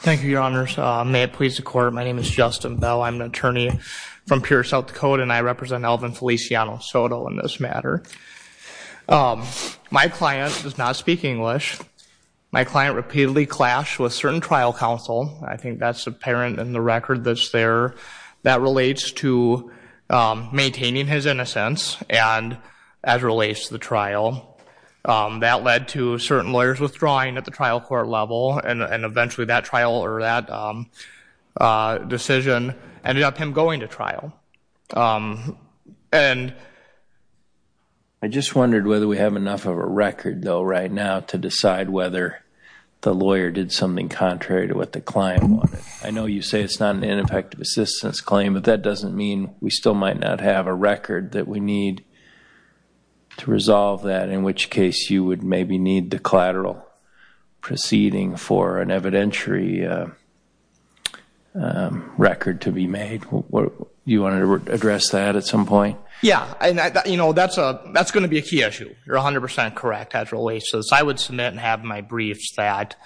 Thank you, your honors. May it please the court, my name is Justin Bell. I'm an attorney from Pure South Dakota and I represent Alvin Felicianosoto in this matter. My client does not speak English. My client repeatedly clashed with certain trial counsel. I think that's apparent in the record that's there that relates to maintaining his innocence and as relates to the trial. That led to and eventually that trial or that decision ended up him going to trial. And I just wondered whether we have enough of a record though right now to decide whether the lawyer did something contrary to what the client wanted. I know you say it's not an ineffective assistance claim but that doesn't mean we still might not have a record that we need to resolve that in which case you would maybe need the collateral proceeding for an evidentiary record to be made. You want to address that at some point? Yeah and you know that's a that's going to be a key issue. You're 100% correct as relates to this. I would submit and have my briefs that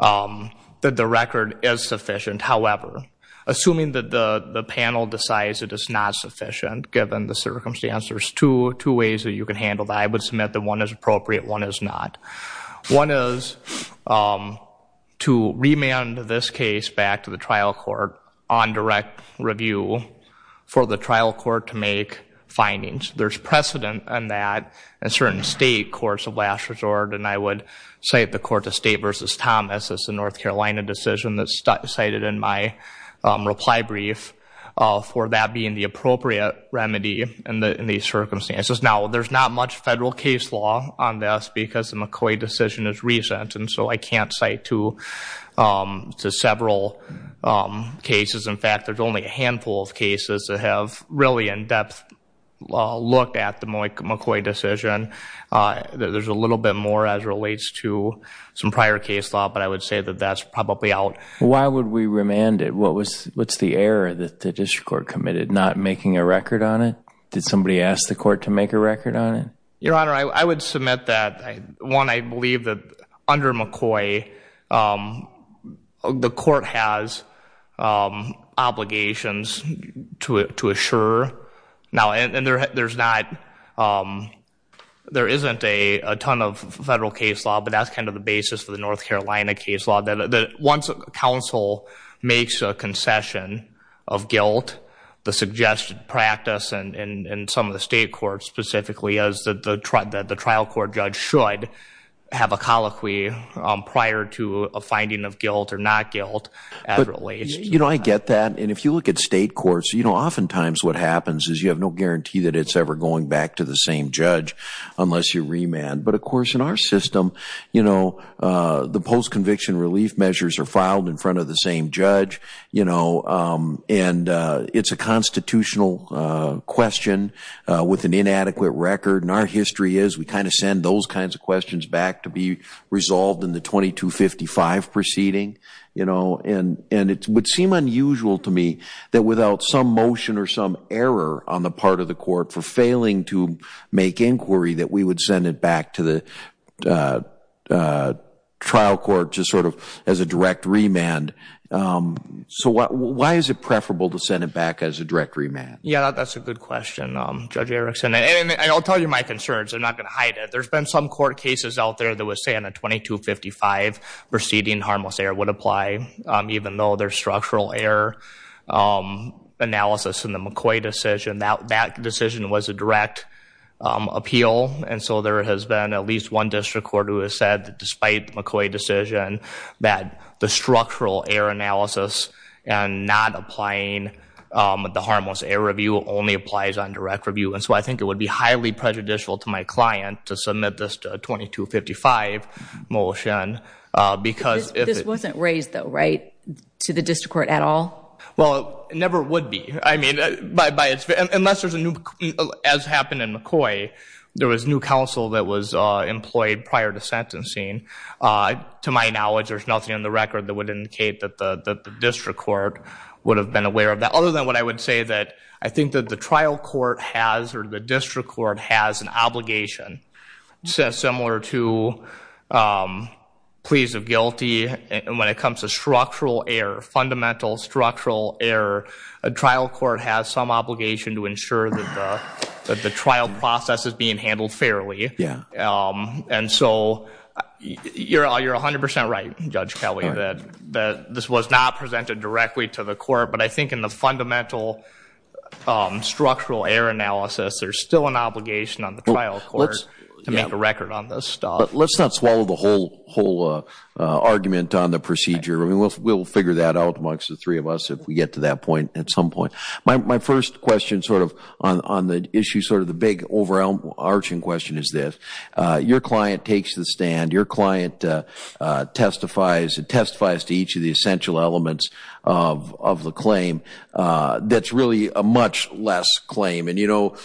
that the record is sufficient. However, assuming that the panel decides it is not sufficient given the circumstances, there's two ways that you can handle that. I would submit that one is appropriate, one is not. One is to remand this case back to the trial court on direct review for the trial court to make findings. There's precedent on that in certain state courts of last resort and I would cite the court of State v. Thomas as the North Carolina decision that's cited in my reply brief for that being the appropriate remedy in these circumstances. Now there's not much federal case law on this because the McCoy decision is recent and so I can't cite to several cases. In fact, there's only a handful of cases that have really in-depth look at the McCoy decision. There's a little bit more as relates to some prior case law but I would say that that's probably out. Why would we remand it? What's the error that the district court committed not making a record on it? Did somebody ask the court to make a record on it? Your Honor, I would submit that one I believe that under McCoy the court has obligations to assure. Now and there's not, there isn't a ton of federal case law but that's kind of the basis for the North Carolina case law that once a council makes a concession of guilt, the suggested practice and some of the state courts specifically as the trial court judge should have a colloquy prior to a finding of guilt or not guilt. You know I get that and if you look at state courts you know oftentimes what happens is you have no guarantee that it's ever going back to the same judge unless you remand but of course in our system you know the post conviction relief measures are filed in and it's a constitutional question with an inadequate record and our history is we kind of send those kinds of questions back to be resolved in the 2255 proceeding you know and and it would seem unusual to me that without some motion or some error on the part of the court for failing to make inquiry that we would send it back to the trial court just sort of as a direct remand. So what why is it preferable to send it back as a direct remand? Yeah that's a good question Judge Erickson and I'll tell you my concerns I'm not gonna hide it there's been some court cases out there that was saying a 2255 proceeding harmless error would apply even though their structural error analysis in the McCoy decision that that decision was a direct appeal and so there has been at least one district court who has said that despite McCoy decision that the not applying the harmless error review only applies on direct review and so I think it would be highly prejudicial to my client to submit this 2255 motion because this wasn't raised though right to the district court at all? Well it never would be I mean by its unless there's a new as happened in McCoy there was new counsel that was employed prior to sentencing to my knowledge there's nothing in the record that would indicate that the district court would have been aware of that other than what I would say that I think that the trial court has or the district court has an obligation says similar to pleas of guilty and when it comes to structural error fundamental structural error a trial court has some obligation to ensure that the trial process is handled fairly yeah and so you're all you're a hundred percent right Judge Kelly that that this was not presented directly to the court but I think in the fundamental structural error analysis there's still an obligation on the trial courts to make a record on this stuff. Let's not swallow the whole whole argument on the procedure I mean we'll figure that out amongst the three of us if we get to that point at some point my first question sort of on the issue sort of the big overall arching question is this your client takes the stand your client testifies it testifies to each of the essential elements of the claim that's really a much less claim and you know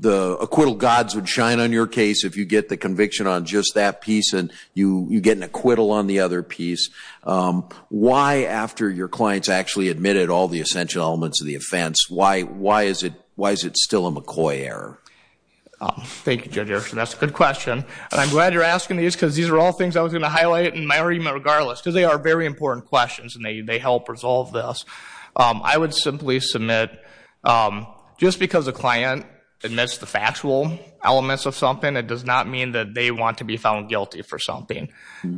the acquittal gods would shine on your case if you get the conviction on just that piece and you you get an acquittal on the other piece why after your clients actually admitted all the still a McCoy error. Thank you Judge Erickson that's a good question and I'm glad you're asking these because these are all things I was gonna highlight in my argument regardless because they are very important questions and they help resolve this I would simply submit just because a client admits the factual elements of something it does not mean that they want to be found guilty for something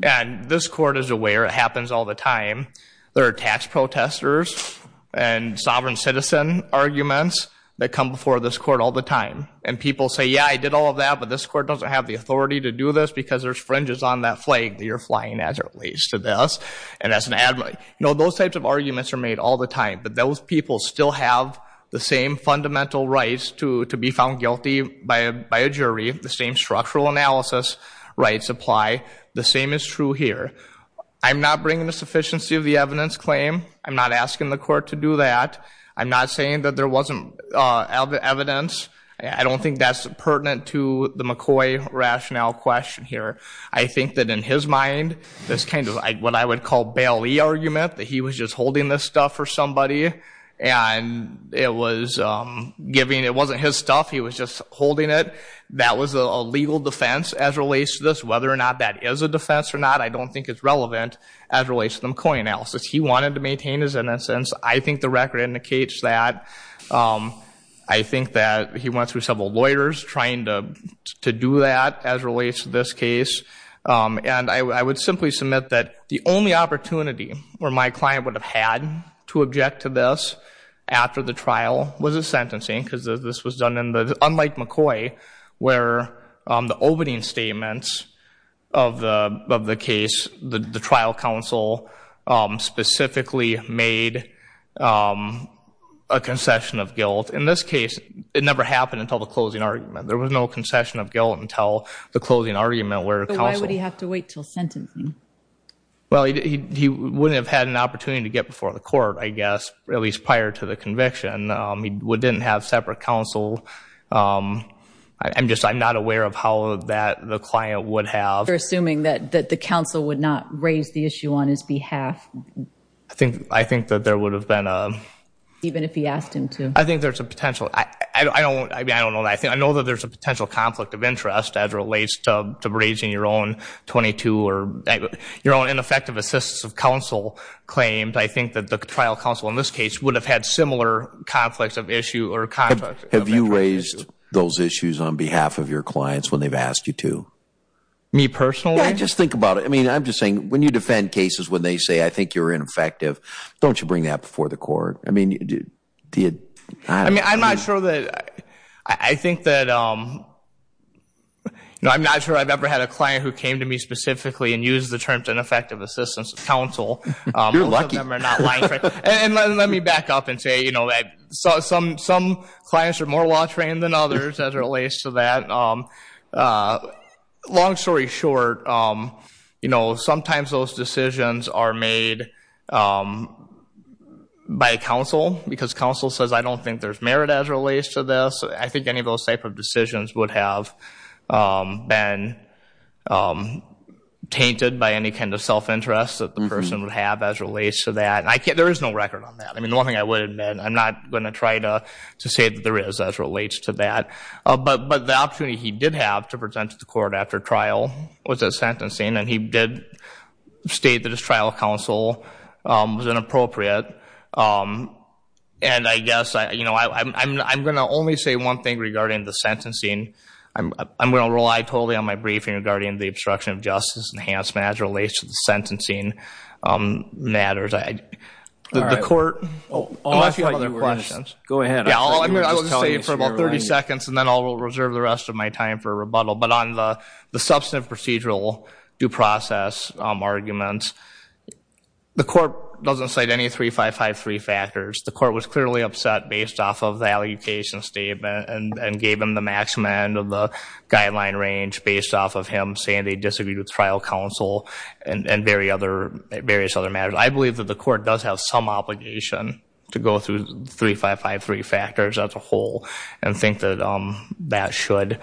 and this court is aware it happens all the time there are tax testers and sovereign citizen arguments that come before this court all the time and people say yeah I did all of that but this court doesn't have the authority to do this because there's fringes on that flag that you're flying at or at least to this and as an admiral you know those types of arguments are made all the time but those people still have the same fundamental rights to to be found guilty by a jury the same structural analysis rights apply the same is true here I'm not bringing the sufficiency of the evidence claim I'm not asking the court to do that I'm not saying that there wasn't evidence I don't think that's pertinent to the McCoy rationale question here I think that in his mind this kind of like what I would call Bailey argument that he was just holding this stuff for somebody and it was giving it wasn't his stuff he was just holding it that was a legal defense as relates to this whether or not that is a defense or not I don't think it's relevant as relates to McCoy analysis he wanted to maintain his innocence I think the record indicates that I think that he went through several lawyers trying to do that as relates to this case and I would simply submit that the only opportunity where my client would have had to object to this after the trial was a sentencing because this was unlike McCoy where the opening statements of the case the trial counsel specifically made a concession of guilt in this case it never happened until the closing argument there was no concession of guilt until the closing argument where why would he have to wait till sentencing well he wouldn't have had an opportunity to get before the court I guess at least prior to the I'm just I'm not aware of how that the client would have assuming that that the counsel would not raise the issue on his behalf I think I think that there would have been a even if he asked him to I think there's a potential I don't I don't know I think I know that there's a potential conflict of interest as relates to raising your own 22 or your own ineffective assists of counsel claimed I think that the trial counsel in this case would have had similar conflicts of issue or contact have you raised those issues on behalf of your clients when they've asked you to me personally I just think about it I mean I'm just saying when you defend cases when they say I think you're ineffective don't you bring that before the court I mean you did I mean I'm not sure that I think that um no I'm not sure I've ever had a client who came to me specifically and use the terms ineffective assistance counsel and let me back up and say you saw some some clients are more law trained than others as relates to that long story short you know sometimes those decisions are made by counsel because counsel says I don't think there's merit as relates to this I think any of those type of decisions would have been tainted by any kind of self interest that the person would have as relates to that I can't there is no record on that I mean one thing I would admit I'm not gonna try to to say that there is as relates to that but but the opportunity he did have to present to the court after trial was a sentencing and he did state that his trial counsel was inappropriate and I guess I you know I'm gonna only say one thing regarding the sentencing I'm gonna rely totally on my briefing regarding the obstruction of court for about 30 seconds and then I'll reserve the rest of my time for a rebuttal but on the the substantive procedural due process arguments the court doesn't cite any three five five three factors the court was clearly upset based off of the allocation statement and gave him the maximum end of the guideline range based off of him saying they disagreed with trial counsel and very other various other matters I believe that the court does have some obligation to go through three five five three factors as a whole and think that um that should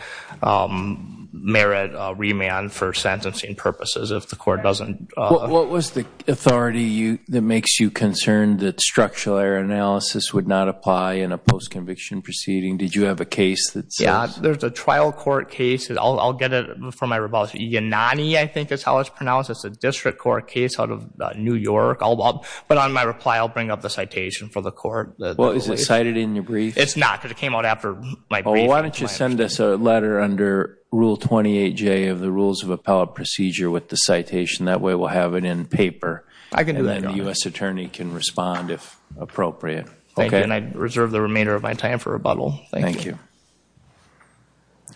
merit remand for sentencing purposes if the court doesn't what was the authority you that makes you concerned that structural error analysis would not apply in a post-conviction proceeding did you have a case that's yeah there's a trial court case I'll get it from my rebuttal Yanani I think it's how it's pronounced it's a district court case out of New York all but on my reply I'll bring up the citation for the court well is it cited in your brief it's not because it came out after my why don't you send us a letter under rule 28 J of the rules of appellate procedure with the citation that way we'll have it in paper I can do that the US Attorney can respond if appropriate okay and I reserve the remainder of my time for rebuttal thank you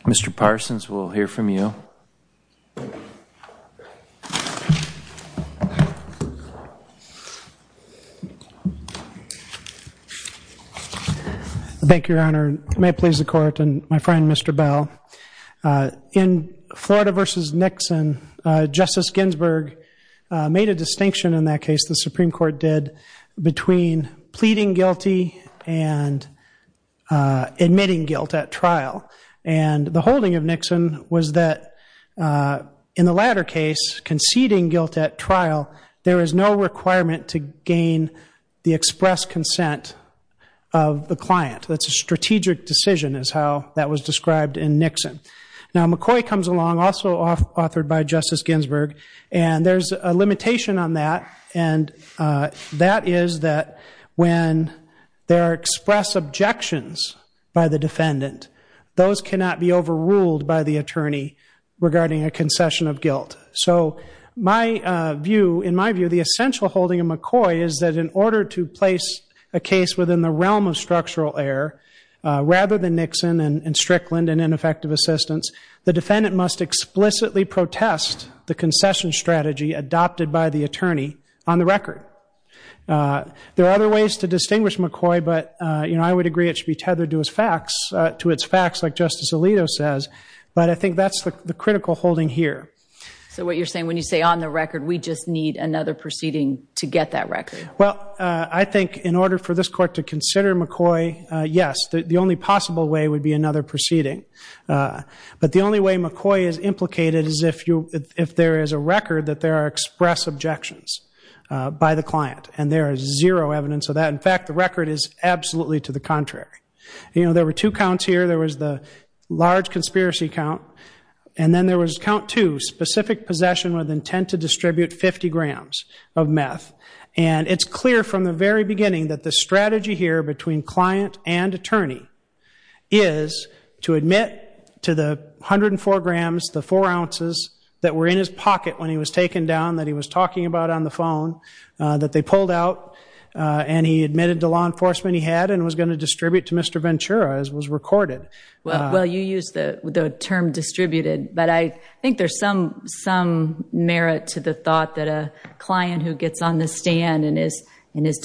mr. Parsons we'll hear from you thank your honor may it please the court and my friend mr. Bell in Florida versus Nixon justice Ginsburg made a distinction in that case the Supreme Court did between pleading guilty and admitting guilt at trial and the holding of Nixon was that in the latter case conceding guilt at trial there is no requirement to gain the express consent of the client that's a strategic decision is how that was described in Nixon now McCoy comes along also off authored by justice Ginsburg and there's a limitation on that and that is that when there are express objections by the defendant those cannot be overruled by the attorney regarding a concession of guilt so my view in my view the essential holding of McCoy is that in order to place a case within the realm of structural error rather than Nixon and Strickland and ineffective assistance the defendant must explicitly protest the concession strategy adopted by the attorney on the record there are other ways to distinguish McCoy but you know I would agree it should be tethered to his facts to its facts like justice Alito says but I think that's the critical holding here so what you're saying when you say on the record we just need another proceeding to get that record well I think in order for this court to consider McCoy yes the only possible way would be another proceeding but the only way McCoy is implicated is if you if there is a record that there are express objections by the client and there is zero evidence of that in fact the record is absolutely to the contrary you know there were two counts here there was the large conspiracy count and then there was count to specific possession with intent to distribute 50 grams of meth and it's clear from the very beginning that the strategy here between client and attorney is to admit to the 104 grams the four ounces that were in his pocket when he was taken down that he was talking about on the phone that they pulled out and he admitted to law enforcement he had and was going to distribute to mr. Ventura as was recorded well you use the term distributed but I think there's some some merit to the thought that a client who gets on the stand and is and is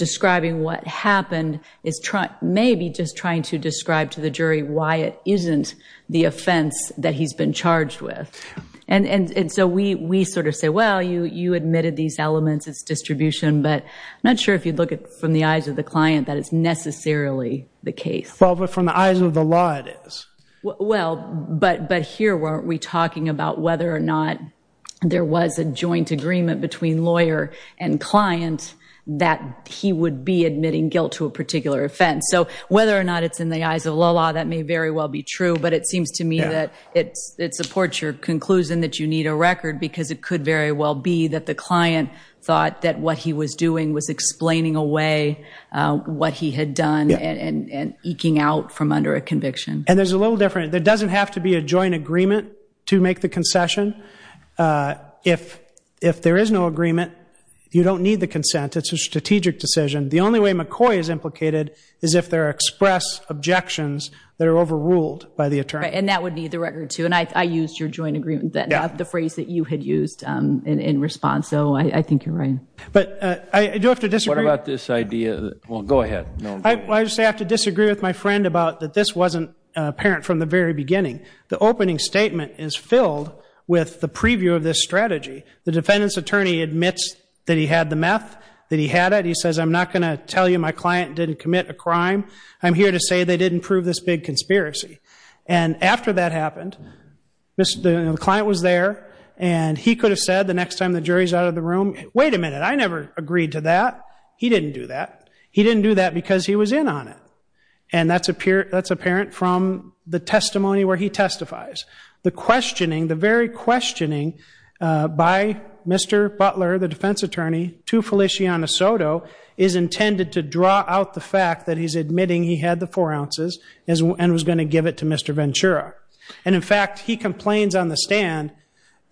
what happened is trying maybe just trying to describe to the jury why it isn't the offense that he's been charged with and and and so we we sort of say well you you admitted these elements its distribution but I'm not sure if you'd look at from the eyes of the client that it's necessarily the case well but from the eyes of the law it is well but but here weren't we talking about whether or not there was a joint agreement between lawyer and client that he would be admitting guilt to a particular offense so whether or not it's in the eyes of law law that may very well be true but it seems to me that it's it supports your conclusion that you need a record because it could very well be that the client thought that what he was doing was explaining away what he had done and and eking out from under a conviction and there's a little different there doesn't have to be a joint agreement to make the concession if if there is no consent it's a strategic decision the only way McCoy is implicated is if they're expressed objections that are overruled by the attorney and that would be the record too and I used your joint agreement that the phrase that you had used in response so I think you're right but I do have to disagree about this idea won't go ahead I just have to disagree with my friend about that this wasn't apparent from the very beginning the opening statement is filled with the preview of this strategy the defendant's attorney admits that he had the meth that he had it he says I'm not gonna tell you my client didn't commit a crime I'm here to say they didn't prove this big conspiracy and after that happened mr. the client was there and he could have said the next time the jury's out of the room wait a minute I never agreed to that he didn't do that he didn't do that because he was in on it and that's appear that's apparent from the testimony where he testifies the questioning the very questioning by mr. Butler the defense attorney to Feliciano Soto is intended to draw out the fact that he's admitting he had the four ounces as well and was going to give it to mr. Ventura and in fact he complains on the stand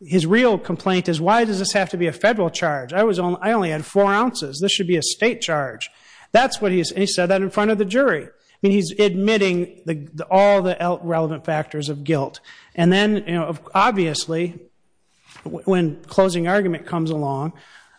his real complaint is why does this have to be a federal charge I was only I only had four ounces this should be a state charge that's what he said that in front of the jury I mean he's admitting the all the relevant factors of guilt and then obviously when closing argument comes along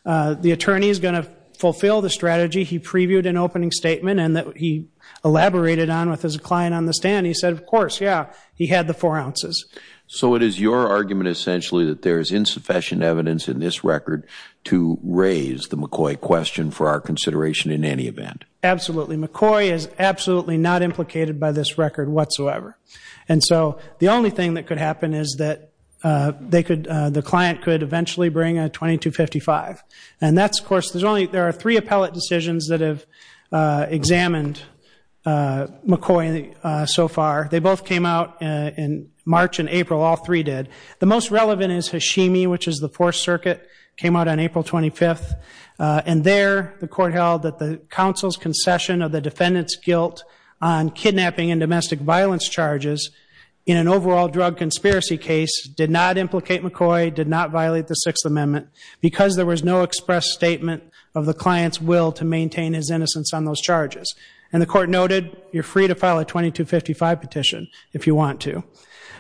the attorney is going to fulfill the strategy he previewed an opening statement and that he elaborated on with his client on the stand he said of course yeah he had the four ounces so it is your argument essentially that there is insufficient evidence in this record to raise the McCoy question for our consideration in any event absolutely McCoy is absolutely not implicated by this record whatsoever and so the only thing that could happen is that they could the client could eventually bring a 2255 and that's of course there's only there are three appellate decisions that have examined McCoy so far they both came out in March and April all three did the most relevant is Hashimi which is the Fourth Circuit came out on April 25th and there the court held that the council's concession of the defendants guilt on kidnapping and domestic violence charges in an overall drug conspiracy case did not implicate McCoy did not violate the Sixth Amendment because there was no express statement of the client's will to maintain his innocence on those charges and the court noted you're free to file a 2255 petition if you want to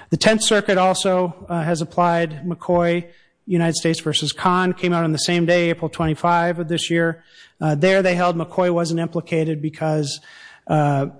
the Tenth Circuit also has applied McCoy United States vs. Khan came out on the same day April 25 of this year there they held McCoy wasn't implicated because the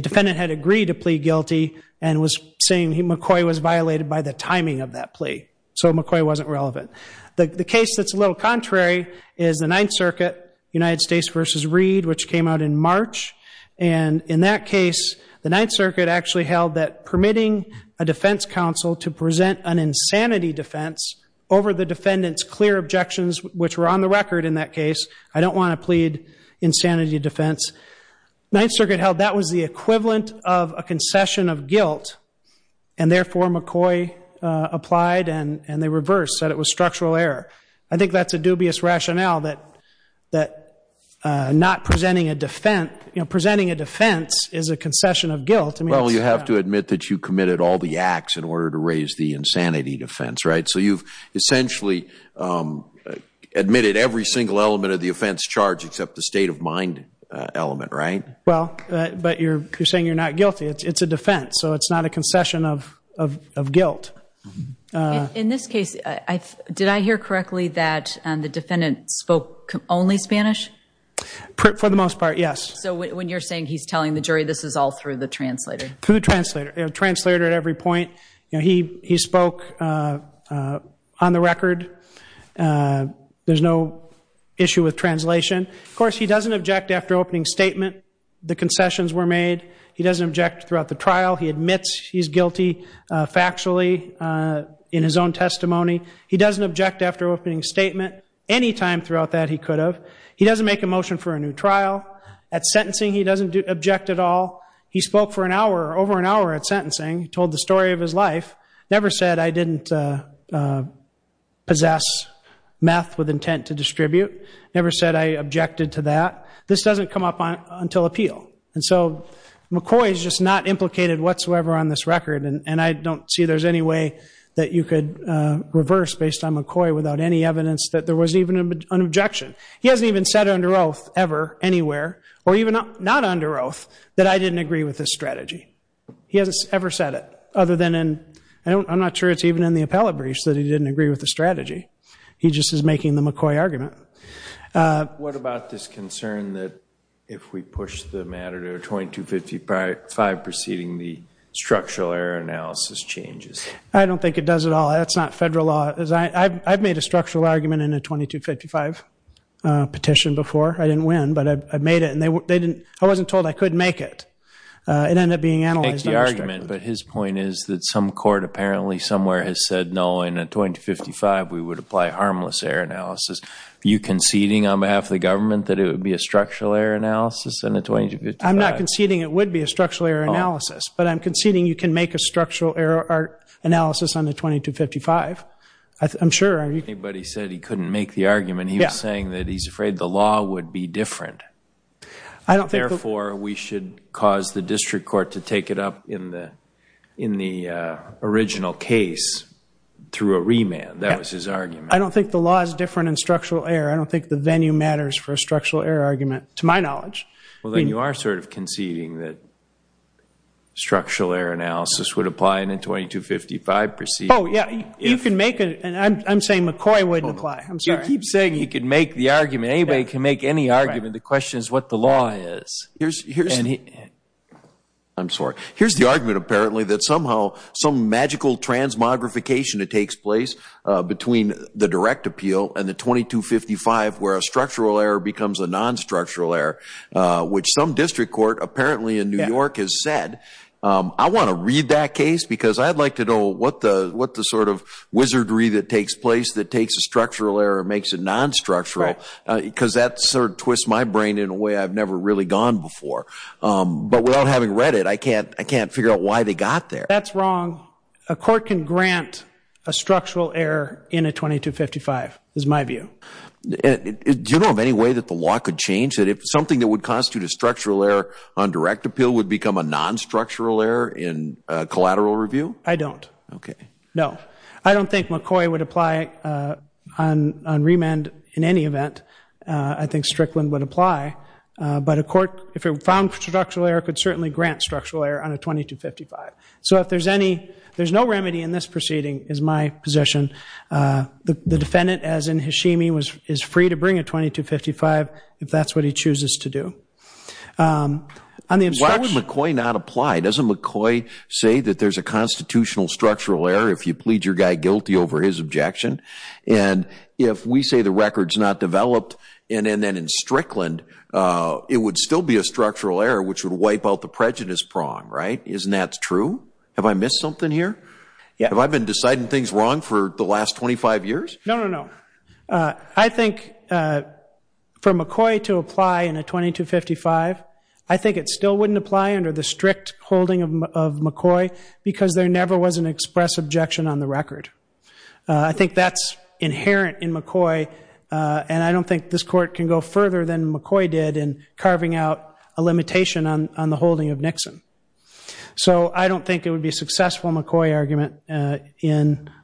defendant had agreed to and was saying he McCoy was violated by the timing of that plea so McCoy wasn't relevant the case that's a little contrary is the Ninth Circuit United States vs. Reed which came out in March and in that case the Ninth Circuit actually held that permitting a defense counsel to present an insanity defense over the defendants clear objections which were on the record in that case I don't want to plead insanity defense Ninth Circuit held that was the and therefore McCoy applied and and they reversed said it was structural error I think that's a dubious rationale that that not presenting a defense you know presenting a defense is a concession of guilt well you have to admit that you committed all the acts in order to raise the insanity defense right so you've essentially admitted every single element of the offense charge except the state of mind element right well but you're saying you're not guilty it's a defense so it's not a concession of guilt in this case I did I hear correctly that and the defendant spoke only Spanish for the most part yes so when you're saying he's telling the jury this is all through the translator food translator translator at every point you know he he spoke on the record there's no issue with translation of course he doesn't object after opening statement the concessions were made he doesn't object throughout the trial he admits he's guilty factually in his own testimony he doesn't object after opening statement anytime throughout that he could have he doesn't make a motion for a new trial at sentencing he doesn't object at all he spoke for an hour over an hour at sentencing told the story of his life never said I didn't possess meth with intent to distribute never said I objected to that this doesn't come up on until appeal and so McCoy's just not implicated whatsoever on this record and I don't see there's any way that you could reverse based on McCoy without any evidence that there was even an objection he hasn't even said under oath ever anywhere or even not under oath that I didn't agree with this strategy he hasn't ever said it other than and I'm not sure it's even in the appellate briefs that he didn't agree with the strategy he just is McCoy argument what about this concern that if we push the matter to 2255 proceeding the structural error analysis changes I don't think it does it all that's not federal law as I I've made a structural argument in a 2255 petition before I didn't win but I made it and they were they didn't I wasn't told I could make it it ended up being analyzed argument but his point is that some court apparently somewhere has said no in a 2055 we would apply harmless error you conceding on behalf of the government that it would be a structural error analysis and a 20 I'm not conceding it would be a structural error analysis but I'm conceding you can make a structural error art analysis on the 2255 I'm sure anybody said he couldn't make the argument he was saying that he's afraid the law would be different I don't therefore we should cause the district court to take it up in the in the original case through a I don't think the law is different in structural error I don't think the venue matters for a structural error argument to my knowledge well then you are sort of conceding that structural error analysis would apply in a 2255 proceed oh yeah you can make it and I'm saying McCoy wouldn't apply I'm sorry keep saying you can make the argument anybody can make any argument the question is what the law is here's here's any I'm sorry here's the argument apparently somehow some magical transmogrification it takes place between the direct appeal and the 2255 where a structural error becomes a non-structural error which some district court apparently in New York has said I want to read that case because I'd like to know what the what the sort of wizardry that takes place that takes a structural error makes it non-structural because that sort of twists my brain in a way I've never really gone before but without having read it I can't I can't figure out why they got there that's wrong a court can grant a structural error in a 2255 is my view do you know of any way that the law could change that if something that would constitute a structural error on direct appeal would become a non-structural error in collateral review I don't okay no I don't think McCoy would apply on remand in any event I think Strickland would apply but a court if it found structural error could certainly grant structural error on a 2255 so if there's any there's no remedy in this proceeding is my position the defendant as in Hashimi was is free to bring a 2255 if that's what he chooses to do I mean why would McCoy not apply doesn't McCoy say that there's a constitutional structural error if you plead your guy guilty over his objection and if we say the records not developed and then in Strickland it would still be a structural error which would wipe out the prejudice prong right isn't that true have I missed something here yeah I've been deciding things wrong for the last 25 years no no I think for McCoy to apply in a 2255 I think it still wouldn't apply under the strict holding of McCoy because there never was an express objection on the record I think that's inherent in McCoy and I don't think this court can go further than McCoy did in carving out a limitation on the holding of Nixon so I don't think it would be successful McCoy argument in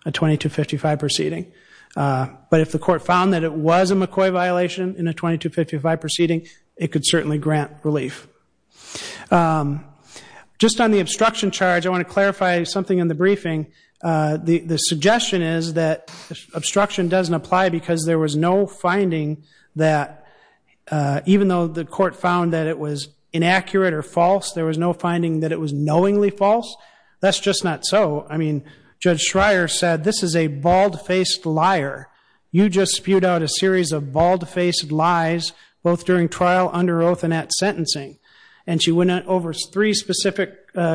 a 2255 proceeding but if the court found that it was a McCoy violation in a 2255 proceeding it could certainly grant relief just on the obstruction charge I want to clarify something in the briefing the the suggestion is that obstruction doesn't apply because there was no finding that even though the court found that it was inaccurate or false there was no finding that it was knowingly false that's just not so I mean judge Schreier said this is a bald-faced liar you just spewed out a series of bald-faced lies both during trial under oath and at sentencing and she went over three specific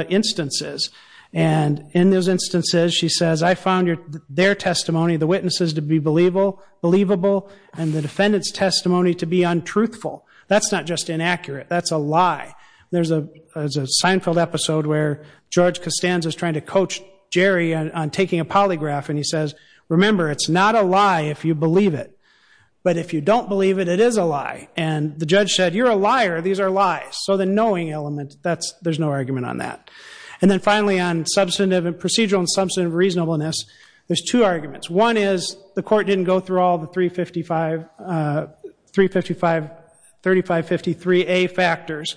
instances and in those instances she says I found your their believable and the defendant's testimony to be untruthful that's not just inaccurate that's a lie there's a Seinfeld episode where George Costanza is trying to coach Jerry on taking a polygraph and he says remember it's not a lie if you believe it but if you don't believe it it is a lie and the judge said you're a liar these are lies so the knowing element that's there's no argument on that and then finally on substantive and procedural and substantive reasonableness there's two arguments one is the court didn't go through all the 355 355 3553 a factors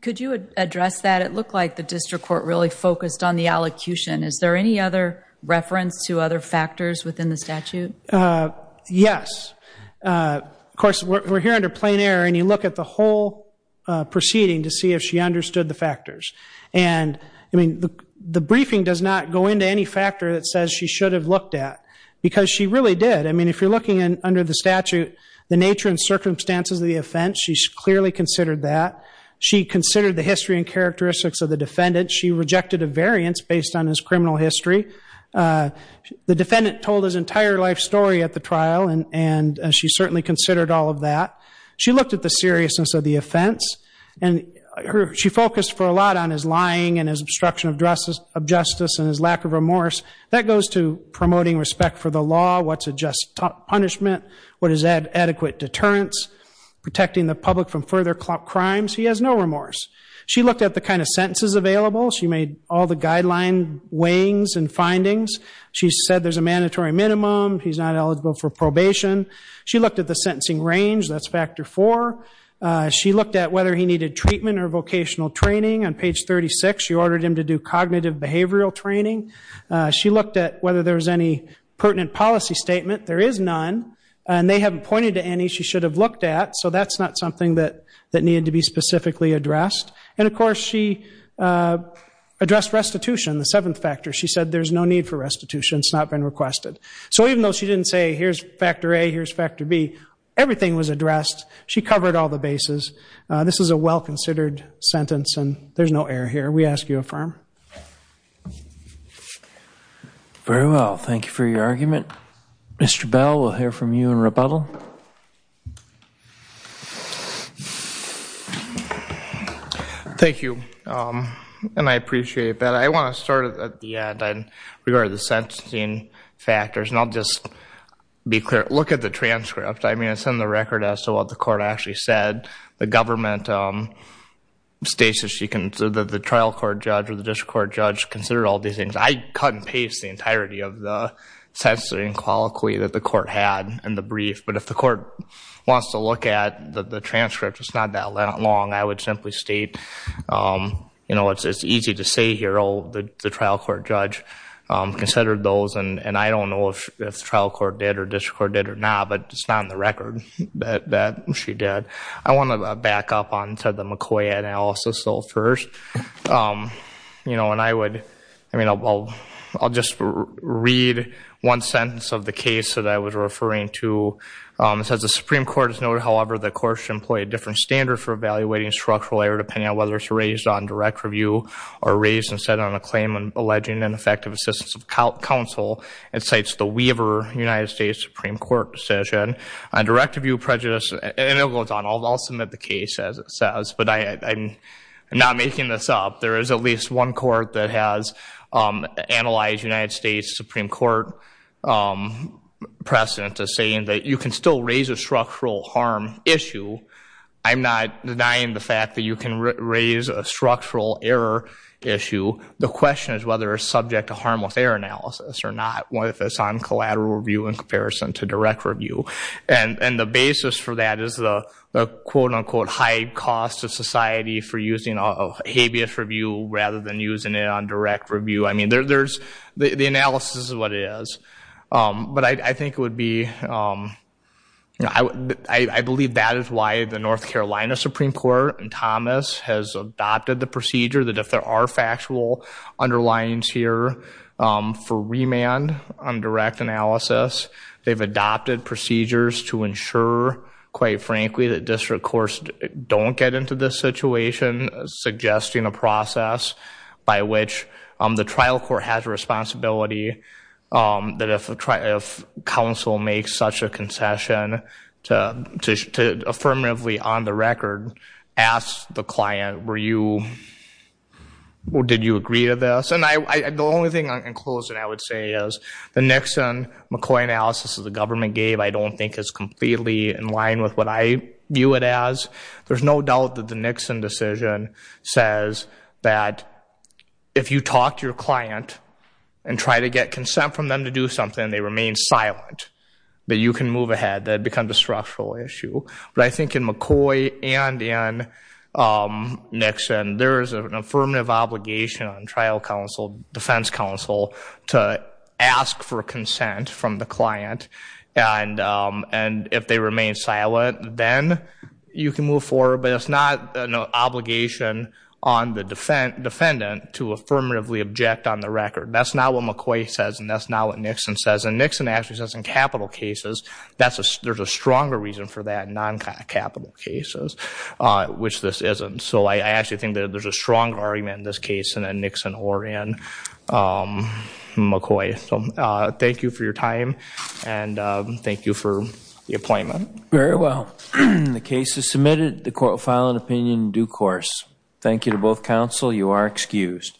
could you address that it looked like the district court really focused on the allocution is there any other reference to other factors within the statute yes of course we're here under plain error and you look at the whole proceeding to see if she understood the factors and I mean the briefing does not go into any factor that says she should have looked at because she really did I mean if you're looking in under the statute the nature and circumstances of the offense she's clearly considered that she considered the history and characteristics of the defendant she rejected a variance based on his criminal history the defendant told his entire life story at the trial and and she certainly considered all of that she looked at the seriousness of the offense and her she focused for a lot on his lying and his obstruction of dresses of and his lack of remorse that goes to promoting respect for the law what's a just punishment what is that adequate deterrence protecting the public from further crimes he has no remorse she looked at the kind of sentences available she made all the guideline weighings and findings she said there's a mandatory minimum he's not eligible for probation she looked at the sentencing range that's factor for she looked at whether he needed treatment or vocational training on page 36 she ordered him to do cognitive behavioral training she looked at whether there was any pertinent policy statement there is none and they haven't pointed to any she should have looked at so that's not something that that needed to be specifically addressed and of course she addressed restitution the seventh factor she said there's no need for restitution it's not been requested so even though she didn't say here's factor a here's factor B everything was addressed she covered all the bases this is a well-considered sentence and there's no error here we ask you affirm very well thank you for your argument mr. Bell we'll hear from you in rebuttal thank you and I appreciate that I want to start at the end I'd regard the sentencing factors and I'll just be clear look at the transcript I mean I record as to what the court actually said the government states that she can so that the trial court judge or the district court judge consider all these things I cut and paste the entirety of the sensory and quality that the court had and the brief but if the court wants to look at the transcript it's not that long I would simply state you know it's it's easy to say here all the trial court judge considered those and and I don't know if the trial court did or district court did or not but it's not in the record that she did I want to back up on said the McCoy analysis so first you know and I would I mean I'll I'll just read one sentence of the case that I was referring to it says the Supreme Court is noted however the court should employ a different standard for evaluating structural error depending on whether it's raised on direct review or raised instead on a claim and alleging ineffective assistance of counsel it Supreme Court decision on direct review prejudice and it goes on although I'll submit the case as it says but I'm not making this up there is at least one court that has analyzed United States Supreme Court precedent to saying that you can still raise a structural harm issue I'm not denying the fact that you can raise a structural error issue the question is whether a subject to harmless error analysis or not what if it's on collateral review in comparison to direct review and and the basis for that is the quote-unquote high cost of society for using a habeas review rather than using it on direct review I mean there's the analysis is what it is but I think it would be I believe that is why the North Carolina Supreme Court and Thomas has adopted the procedure that if there are factual underlines here for remand on direct analysis they've adopted procedures to ensure quite frankly that district courts don't get into this situation suggesting a process by which the trial court has a responsibility that if a trial counsel makes such a concession to affirmatively on the record ask the client were you well did you agree to this and I the only thing I can close and I would say is the Nixon McCoy analysis of the government gave I don't think it's completely in line with what I view it as there's no doubt that the Nixon decision says that if you talk to your client and try to get consent from them to do something they remain silent but you can move ahead that becomes a structural issue but I think in McCoy and in Nixon there is an affirmative obligation on trial counsel defense counsel to ask for consent from the client and and if they remain silent then you can move forward but it's not an obligation on the defendant to affirmatively object on the record that's not what McCoy says and that's in capital cases that's a there's a stronger reason for that non capital cases which this isn't so I actually think that there's a strong argument in this case and then Nixon or in McCoy some thank you for your time and thank you for the appointment very well the case is submitted the court file an opinion due course thank you to both counsel you are excused